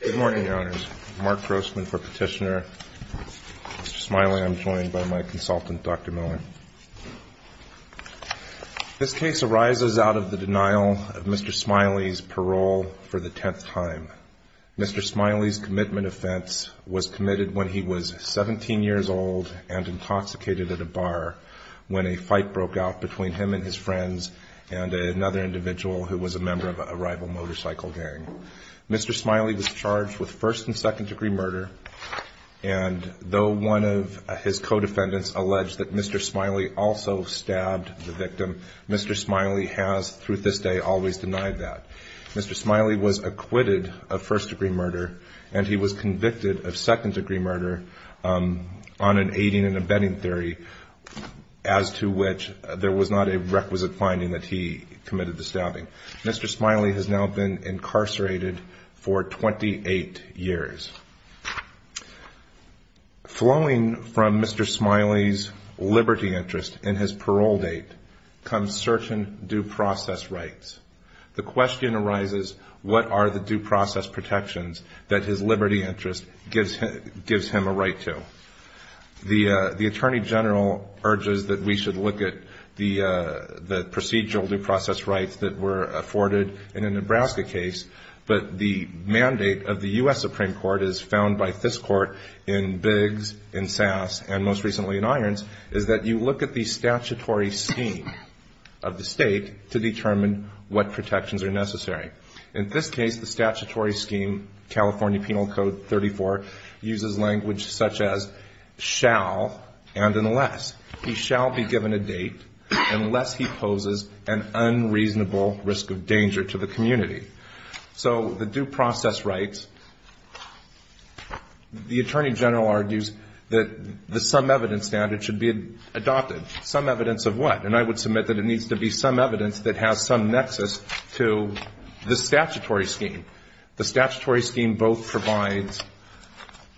Good morning, Your Honors. Mark Grossman for Petitioner. Mr. Smiley, I'm joined by my consultant Dr. Miller. This case arises out of the denial of Mr. Smiley's parole for the tenth time. Mr. Smiley's commitment offense was committed when he was 17 years old and intoxicated at a bar when a fight broke out between him and his friends and another individual who was a member of a rival mobility group. Mr. Smiley was charged with first and second degree murder and though one of his co-defendants alleged that Mr. Smiley also stabbed the victim, Mr. Smiley has through this day always denied that. Mr. Smiley was acquitted of first degree murder and he was convicted of second degree murder on an aiding and abetting theory as to which there was not a requisite finding that he committed the stabbing. Mr. Smiley has now been incarcerated for 28 years. Flowing from Mr. Smiley's liberty interest in his parole date comes certain due process rights. The question arises, what are the due process protections that his liberty interest gives him a right to? The Attorney General urges that we should look at the procedural due process rights that were afforded in a Nebraska case, but the mandate of the U.S. Supreme Court, as found by this court in Biggs, in Sass, and most recently in Irons, is that you look at the statutory scheme of the state to determine what protections are necessary. In this case, the statutory scheme, California Penal Code 34, uses language such as shall and unless. He shall be given a date unless he poses an unreasonable risk of danger to the community. So the due process rights, the Attorney General argues that the some evidence standard should be adopted. Some evidence of what? And I would submit that it needs to be some evidence that has some nexus to the statutory scheme. The statutory scheme both provides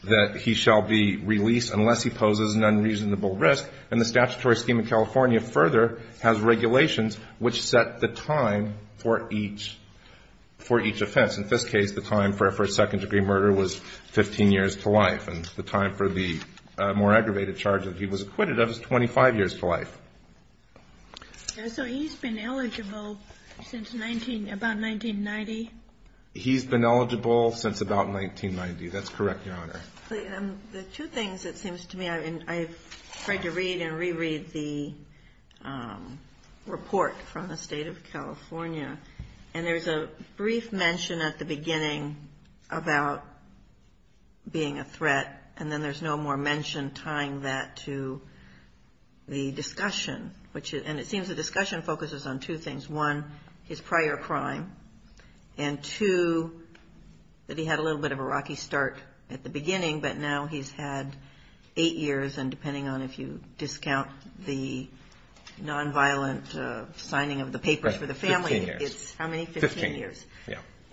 that he shall be released unless he poses an unreasonable risk, and the statutory scheme in California further has regulations which set the time for each offense. In this case, the time for a second-degree murder was 15 years to life, and the time for the more aggravated charge that he was acquitted of was 25 years to life. So he's been eligible since about 1990? He's been eligible since about 1990. That's correct, Your Honor. The two things it seems to me, I've tried to read and reread the report from the State of California, and there's a brief mention at the beginning about being a threat, and then there's no more mention tying that to the discussion, and it seems the discussion focuses on two things. One, his prior crime, and two, that he had a little bit of a rocky start at the beginning, but now he's had eight years, and depending on if you discount the non-violent signing of the papers for the family, it's how many? Fifteen years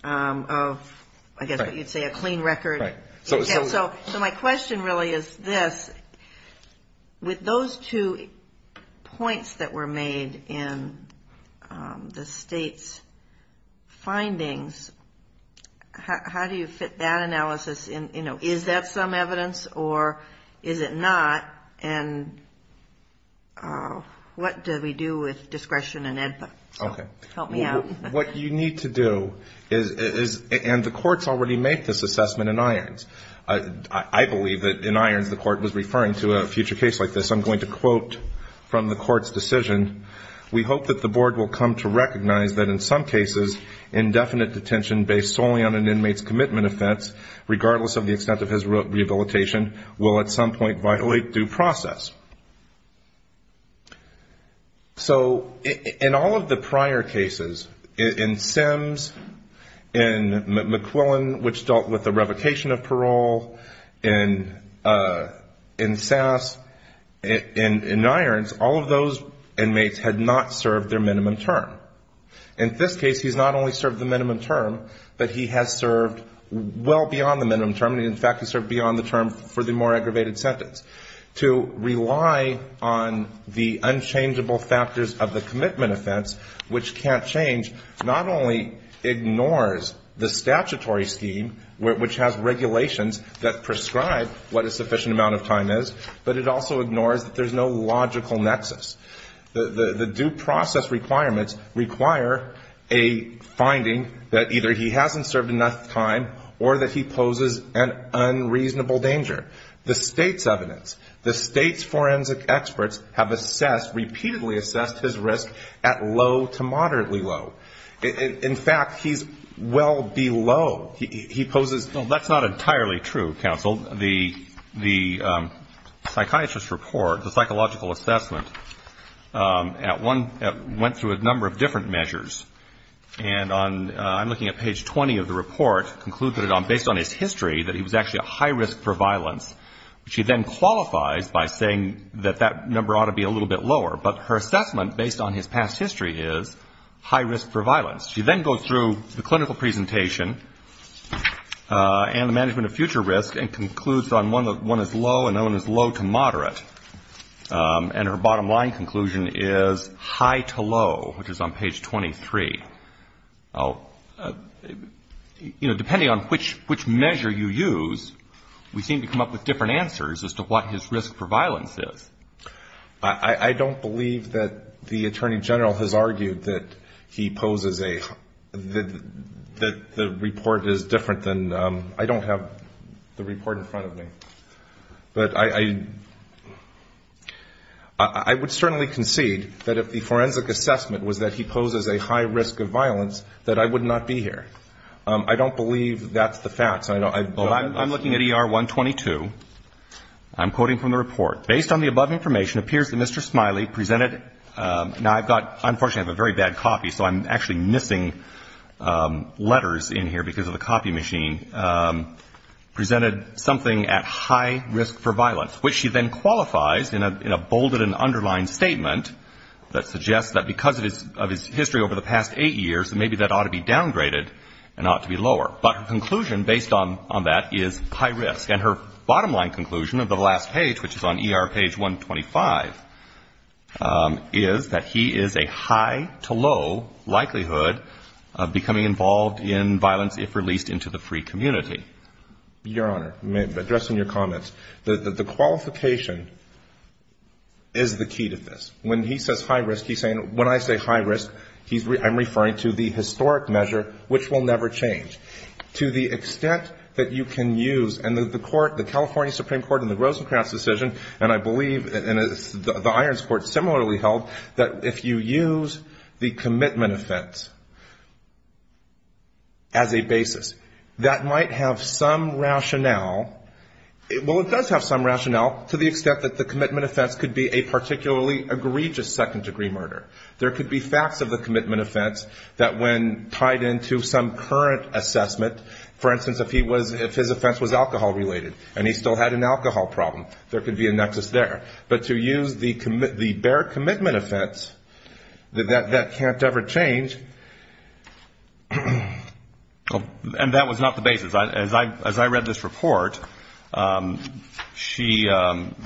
of I guess what you'd say a clean record. So my question really is this. The state's findings, how do you fit that analysis in? Is that some evidence, or is it not, and what do we do with discretion and input? Help me out. What you need to do is, and the courts already make this assessment in Irons. I believe that in Irons the court was referring to a future case like this. I'm going to quote from the court's decision. So in all of the prior cases, in Sims, in McQuillan, which dealt with the revocation of parole, which dealt with the revocation of parole, which dealt with the revocation of parole, in Sass, in Irons, all of those inmates had not served their minimum term. In this case, he's not only served the minimum term, but he has served well beyond the minimum term. In fact, he served beyond the term for the more aggravated sentence. To rely on the unchangeable factors of the commitment offense, which can't change, not only ignores the statutory scheme, which has regulations that prescribe what a sufficient amount of time is, but it also ignores that there's no logical nexus. The due process requirements require a finding that either he hasn't served enough time or that he poses an unreasonable danger. The State's evidence, the State's forensic experts have repeatedly assessed his risk at low to moderately low. In fact, he's well below. He poses no, that's not entirely true, counsel. The psychiatrist's report, the psychological assessment, at one, went through a number of different measures. And on, I'm looking at page 20 of the report, concluded on, based on his history, that he was actually a high risk for violence. Which he then qualifies by saying that that number ought to be a little bit lower. But her assessment, based on his past history, is high risk for violence. She then goes through the clinical presentation and the management of future risk and concludes on one is low and no one is low to moderate. And her bottom line conclusion is high to low, which is on page 23. Depending on which measure you use, we seem to come up with different answers as to what his risk for violence is. I don't believe that the Attorney General has argued that he poses a, that the report is different than, I don't have the report in front of me. But I would certainly concede that if the forensic assessment was that he poses a high risk of violence, that I would not be here. I don't believe that's the fact. I'm looking at ER 122. I'm quoting from the report. Based on the above information, it appears that Mr. Smiley presented, now I've got, unfortunately I have a very bad copy, so I'm actually missing letters in here because of the copy machine, presented something at high risk for violence, which she then qualifies in a bolded and underlined statement that suggests that because of his history over the past eight years, maybe that ought to be downgraded and ought to be lower. But her conclusion based on that is high risk. And her bottom line conclusion of the last page, which is on ER page 125, is that he is a high to low likelihood of becoming involved in violence if released into the free community. Your Honor, addressing your comments, the qualification is the key to this. When he says high risk, he's saying, when I say high risk, I'm referring to the historic measure, which will never change. To the extent that you can use, and the court, the California Supreme Court in the Rosenkrantz decision, and I believe the Irons Court similarly held, that if you use the commitment offense as a basis, that might have some rationale. Well, it does have some rationale to the extent that the commitment offense could be a particularly egregious second degree murder. There could be facts of the commitment offense that when tied into some current assessment, for instance, if his offense was alcohol related and he still had an alcohol problem, there could be a nexus there. But to use the bare commitment offense, that can't ever change. And that was not the basis. As I read this report, the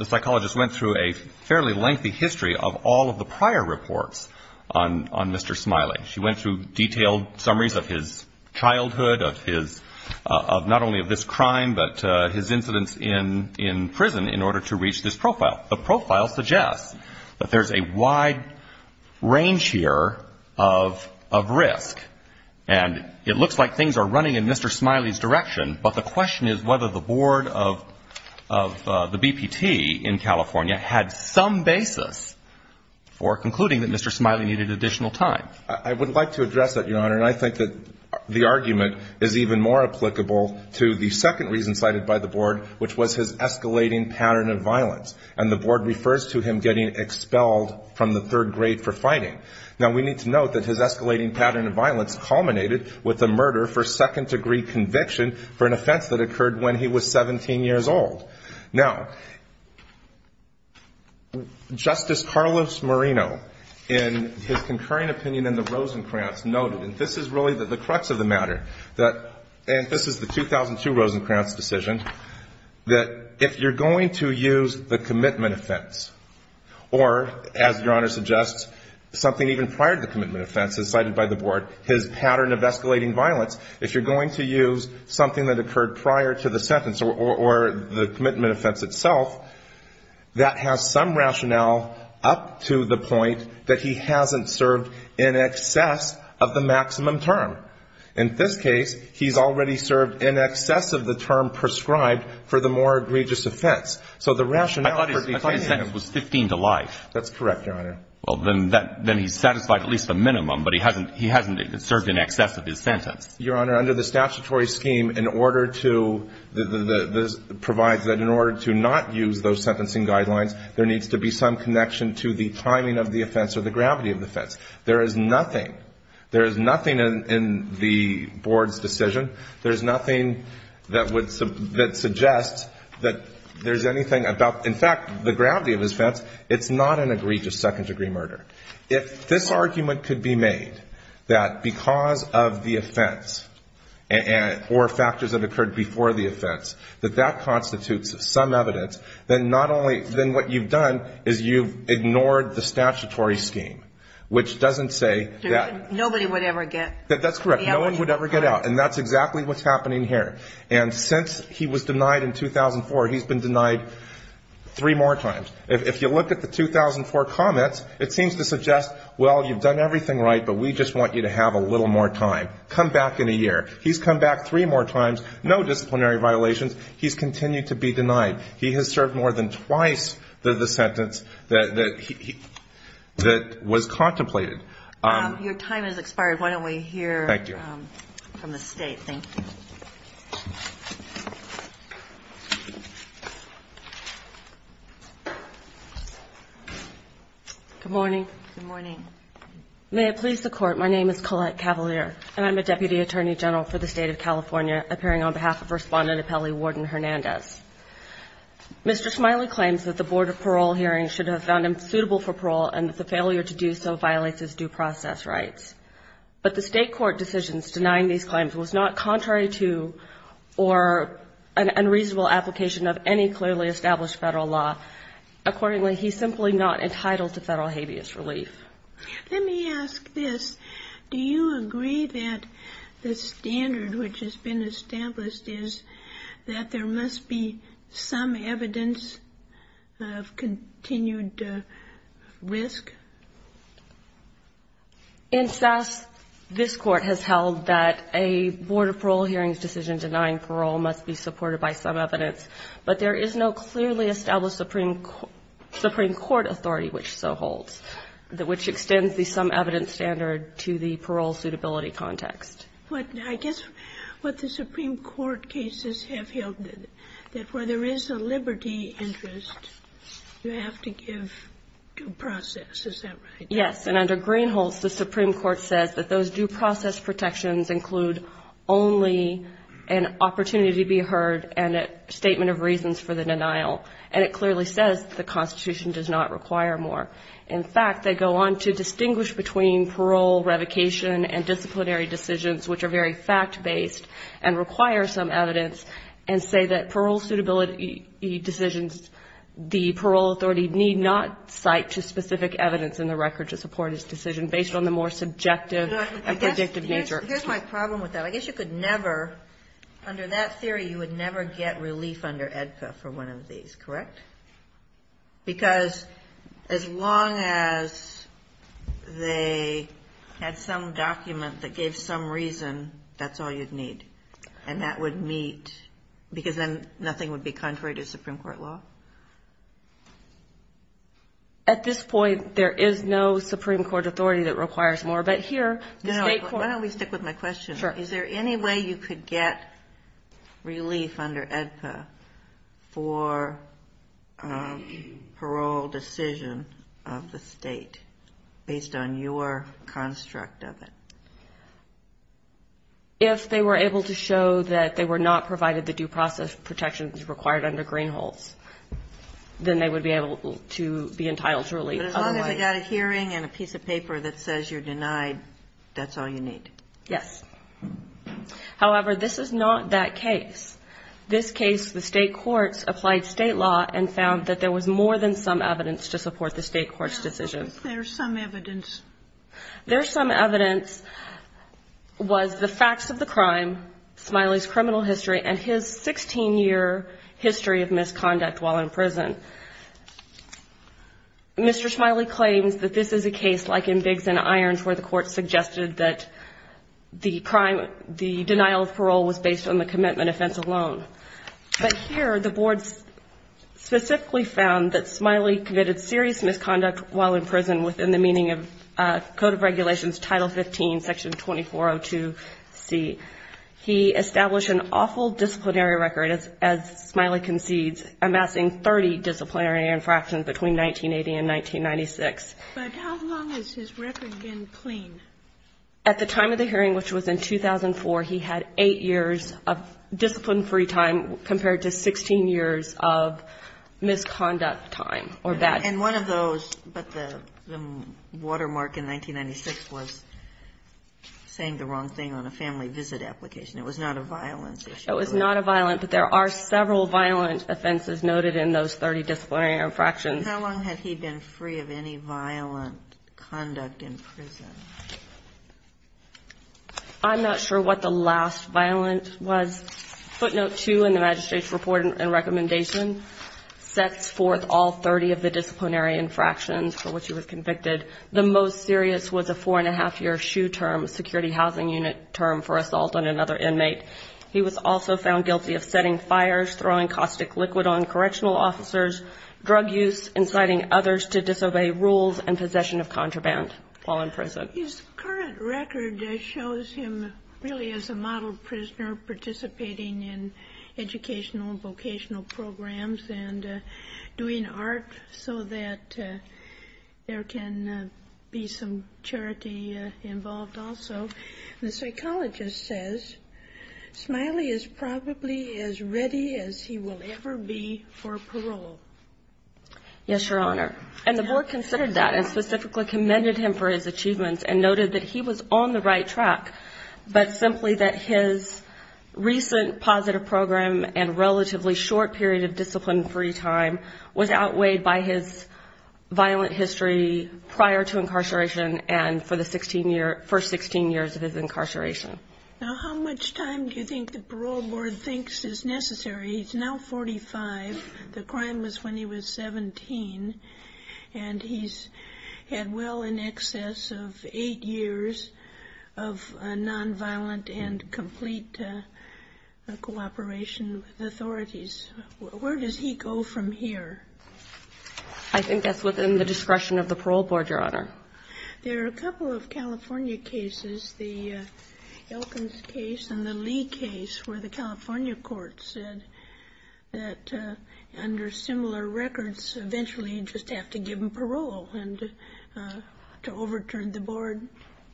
psychologist went through a fairly lengthy history of all of the prior reports. On Mr. Smiley, she went through detailed summaries of his childhood, of his, not only of this crime, but his incidents in prison in order to reach this profile. The profile suggests that there's a wide range here of risk. And it looks like things are running in Mr. Smiley's direction, but the question is whether the board of the BPT in California had some basis for concluding that Mr. Smiley needed additional time. I would like to address that, Your Honor, and I think that the argument is even more applicable to the second reason cited by the board, which was his escalating pattern of violence. And the board refers to him getting expelled from the third grade for fighting. Now, we need to note that his escalating pattern of violence culminated with a murder for second degree conviction for an offense that occurred when he was 17 years old. Now, in his concurring opinion in the Rosencrantz noted, and this is really the crux of the matter, that, and this is the 2002 Rosencrantz decision, that if you're going to use the commitment offense or, as Your Honor suggests, something even prior to the commitment offense, as cited by the board, his pattern of escalating violence, if you're going to use something that occurred prior to the sentence or the commitment offense itself, that has some rationale up to the point that he hasn't served in excess of the maximum term. In this case, he's already served in excess of the term prescribed for the more egregious offense. So the rationale for declaring it was 15 to life. That's correct, Your Honor. Well, then he's satisfied at least the minimum, but he hasn't served in excess of his sentence. Your Honor, under the statutory scheme, in order to, this provides that in order to not use those sentencing guidelines, there needs to be some connection to the timing of the offense or the gravity of the offense. There is nothing, there is nothing in the board's decision, there is nothing that would, that suggests that there's anything about, in fact, the gravity of his offense, it's not an egregious second-degree murder. If this argument could be made, that because of the offense or factors that occurred before the offense, that that constitutes some evidence, then not only, then what you've done is you've ignored the statutory scheme, which doesn't say that. Nobody would ever get out. And that's exactly what's happening here. And since he was denied in 2004, he's been denied three more times. If you look at the 2004 comments, it seems to suggest, well, you've done everything right, but we just want you to have a little more time. Come back in a year. He's come back three more times, no disciplinary violations, he's continued to be denied. He has served more than twice the sentence that he, that was contemplated. Your time has expired. Why don't we hear from the State, thank you. Good morning. Good morning. May it please the Court, my name is Collette Cavalier, and I'm a Deputy Attorney General for the State of California, appearing on behalf of Respondent Apelli Warden Hernandez. Mr. Smiley claims that the Board of Parole hearings should have found him suitable for parole and that the failure to do so violates his due process rights. But the State court decisions denying these claims was not contrary to or an unreasonable application of any clearly established Federal law. Accordingly, he's simply not entitled to Federal habeas relief. Let me ask this, do you agree that the standard which has been established is that there must be some evidence of continued risk? Incess, this court has held that a Board of Parole hearings decision denying parole must be supported by some evidence, but there is no clearly established Supreme Court authority which so holds, which extends the some evidence standard to the parole suitability context. But I guess what the Supreme Court cases have held that where there is a liberty interest, you have to give due process, is that right? Yes, and under Greenholz, the Supreme Court says that those due process protections include only an opportunity to be heard and a statement of reasons for the denial. And it clearly says that the Constitution does not require more. In fact, they go on to distinguish between parole, revocation, and disciplinary decisions which are very fact-based and require some evidence and say that parole suitability decisions, the parole authority need not cite to specific evidence in the record to support his decision based on the more subjective and predictive nature. Here's my problem with that. I guess you could never, under that theory, you would never get relief under EDCA for one of these, correct? Because as long as they had some document that gave some reason, that's all you'd need. And that would meet, because then nothing would be contrary to Supreme Court law? At this point, there is no Supreme Court authority that requires more. But here, the State court... No, but why don't we stick with my question? Is there any way you could get relief under EDCA for a parole decision of the State based on your construct of it? If they were able to show that they were not provided the due process protections required under Greenholz, then they would be able to be entitled to relief. But as long as they got a hearing and a piece of paper that says you're denied, that's all you need. Yes. However, this is not that case. This case, the State courts applied State law and found that there was more than some evidence to support the State court's decision. There's some evidence. There's some evidence was the facts of the crime, Smiley's criminal history, and his 16-year history of misconduct while in prison. Mr. Smiley claims that this is a case like in Biggs and Irons where the court suggested that the crime, the denial of parole was based on the commitment offense alone. But here, the board specifically found that Smiley committed serious misconduct while in prison within the code of regulations, Title 15, Section 2402C. He established an awful disciplinary record, as Smiley concedes, amassing 30 disciplinary infractions between 1980 and 1996. But how long has his record been clean? At the time of the hearing, which was in 2004, he had 8 years of discipline-free time compared to 16 years of misconduct time or bad. And one of those, but the watermark in 1996 was saying the wrong thing on a family visit application. It was not a violence issue. It was not a violence, but there are several violent offenses noted in those 30 disciplinary infractions. And how long had he been free of any violent conduct in prison? I'm not sure what the last violence was. Footnote 2 in the magistrate's report and recommendation sets forth all 30 of the disciplinary infractions for which he was convicted. The most serious was a four-and-a-half-year SHU term, security housing unit term, for assault on another inmate. He was also found guilty of setting fires, throwing caustic liquid on correctional officers, drug use, inciting others to disobey rules, and possession of contraband while in prison. His current record shows him really as a model prisoner, participating in educational and vocational programs and doing art so that there can be some charity involved also. The psychologist says Smiley is probably as ready as he will ever be for parole. Yes, Your Honor. And the board considered that and specifically commended him for his achievements and noted that he was on the right track, but simply that his recent positive program and relatively short period of discipline-free time was outweighed by his violent history prior to incarceration and for the first 16 years of his incarceration. Now, how much time do you think the parole board thinks is necessary? He's now 45, the crime was when he was 17, and he's had well in excess of eight years of nonviolent and complete cooperation with authorities. Where does he go from here? I think that's within the discretion of the parole board, Your Honor. There are a couple of California cases, the Elkins case and the Lee case, where the California court said that under similar records, eventually you just have to give him parole and to overturn the board.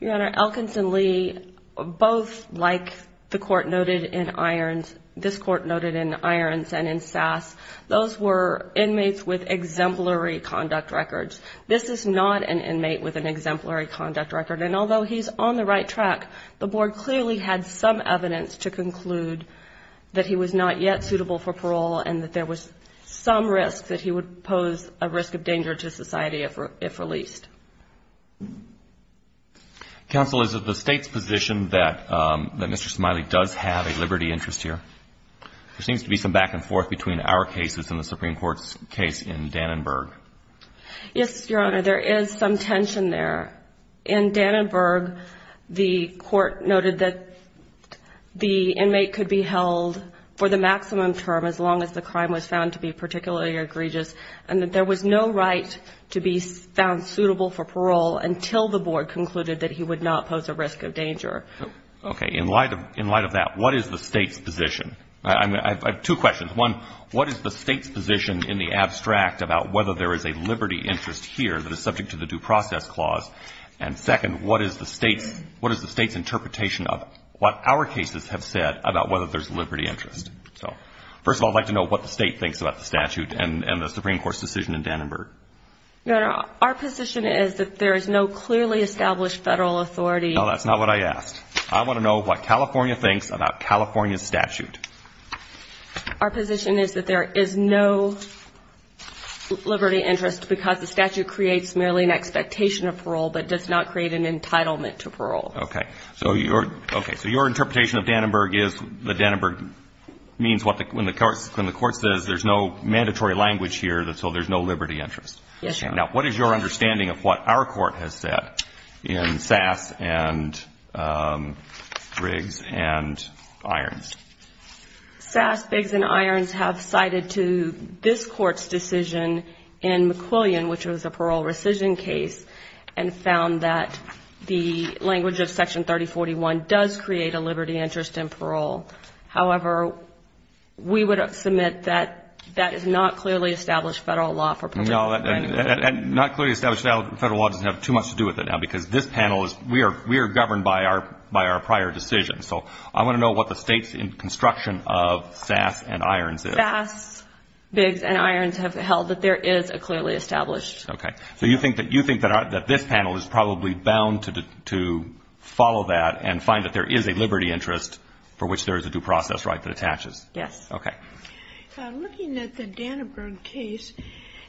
Your Honor, Elkins and Lee, both like the court noted in Irons, this court noted in Irons and in Sass, those were inmates with exemplary conduct records. This is not an inmate with an exemplary conduct record. And although he's on the right track, the board clearly had some evidence to conclude that he was not yet suitable for parole and that there was some risk that he would pose a risk of danger to society if released. Counsel, is it the state's position that Mr. Smiley does have a liberty interest here? There seems to be some back and forth between our cases and the Supreme Court's case in Dannenberg. Yes, Your Honor, there is some tension there. In Dannenberg, the court noted that the inmate could be held for the maximum term as long as the crime was found to be particularly egregious and that there was no right to be found suitable for parole until the board concluded that he would not pose a risk of danger. Okay. In light of that, what is the state's position? I have two questions. One, what is the state's position in the abstract about whether there is a liberty interest here that is subject to the due process clause? And second, what is the state's interpretation of what our cases have said about whether there's liberty interest? First of all, I'd like to know what the state thinks about the statute and the Supreme Court's decision in Dannenberg. Your Honor, our position is that there is no clearly established federal authority. No, that's not what I asked. I want to know what California thinks about California's statute. Our position is that there is no liberty interest because the statute creates merely an expectation of parole but does not create an entitlement to parole. Okay. Okay. So your interpretation of Dannenberg is that Dannenberg means when the court says there's no mandatory language here, so there's no liberty interest. Yes, Your Honor. Now, what is your understanding of what our court has said in Sass, Biggs and Irons? Sass, Biggs and Irons have cited to this Court's decision in McQuillian, which was a parole rescission case, and found that the language of Section 3041 does create a liberty interest in parole. However, we would submit that that is not clearly established federal law for parole. No, and not clearly established federal law doesn't have too much to do with it now because this panel is we are governed by our prior decision. So I want to know what the state's construction of Sass and Irons is. Sass, Biggs and Irons have held that there is a clearly established. Okay. So you think that this panel is probably bound to follow that and find that there is a liberty interest for which there is a due process right that attaches? Yes. Okay. Looking at the Dannenberg case,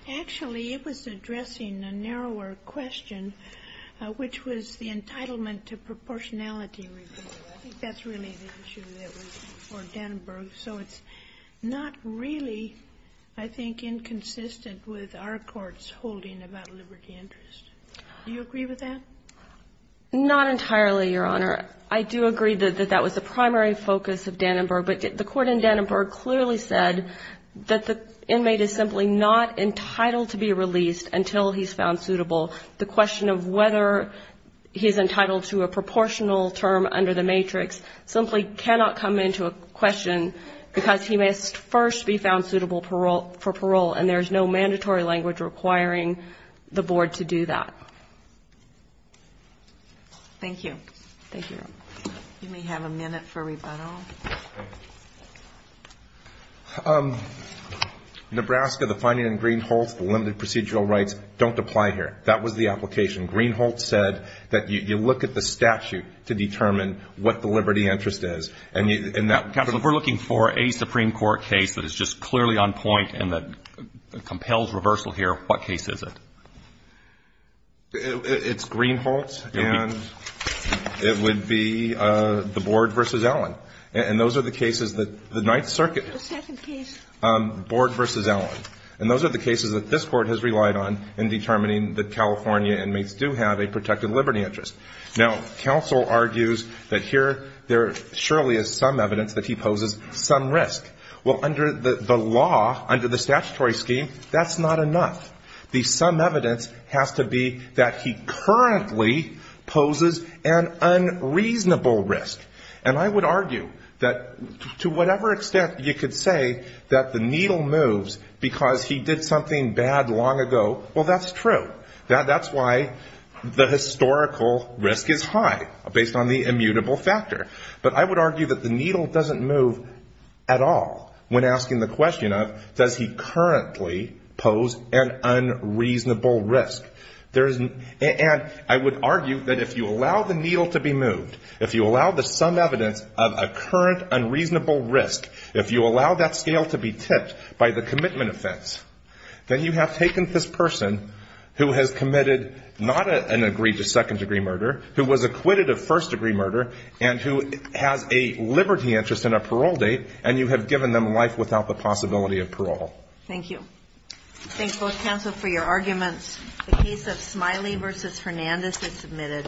actually it was addressing a narrower question, which was the entitlement to proportionality review. I think that's really the issue that was before Dannenberg. So it's not really, I think, inconsistent with our Court's holding about liberty interest. Do you agree with that? Not entirely, Your Honor. I do agree that that was the primary focus of Dannenberg, but the Court in Dannenberg clearly said that the inmate is simply not entitled to be released until he's found suitable. The question of whether he is entitled to a proportional term under the matrix simply cannot come into a question because he must first be found suitable for parole, and there is no mandatory language requiring the Board to do that. Thank you. Thank you. You may have a minute for rebuttal. Nebraska, the finding in Green-Holtz, the limited procedural rights, don't apply here. That was the application. Green-Holtz said that you look at the statute to determine what the liberty interest is. Counsel, if we're looking for a Supreme Court case that is just clearly on point and that compels reversal here, what case is it? It's Green-Holtz, and it would be the Board v. Allen. And those are the cases that the Ninth Circuit Board v. Allen. And those are the cases that this Court has relied on in determining that California inmates do have a protected liberty interest. Now, counsel argues that here there surely is some evidence that he poses some risk. Well, under the law, under the statutory scheme, that's not enough. The some evidence has to be that he currently poses an unreasonable risk. And I would argue that to whatever extent you could say that the needle moves because he did something bad long ago, well, that's true. That's why the historical risk is high, based on the immutable factor. But I would argue that the needle doesn't move at all when asking the question of does he currently pose an unreasonable risk. And I would argue that if you allow the needle to be moved, if you allow the some evidence of a current unreasonable risk, if you allow that scale to be tipped by the commitment offense, then you have taken this person who has committed not an agreed to second-degree murder, who was acquitted of first-degree murder, and who has a liberty interest and a parole date, and you have given them life without the possibility of parole. Thank you. Thank both counsel for your arguments. The case of Smiley v. Hernandez is submitted.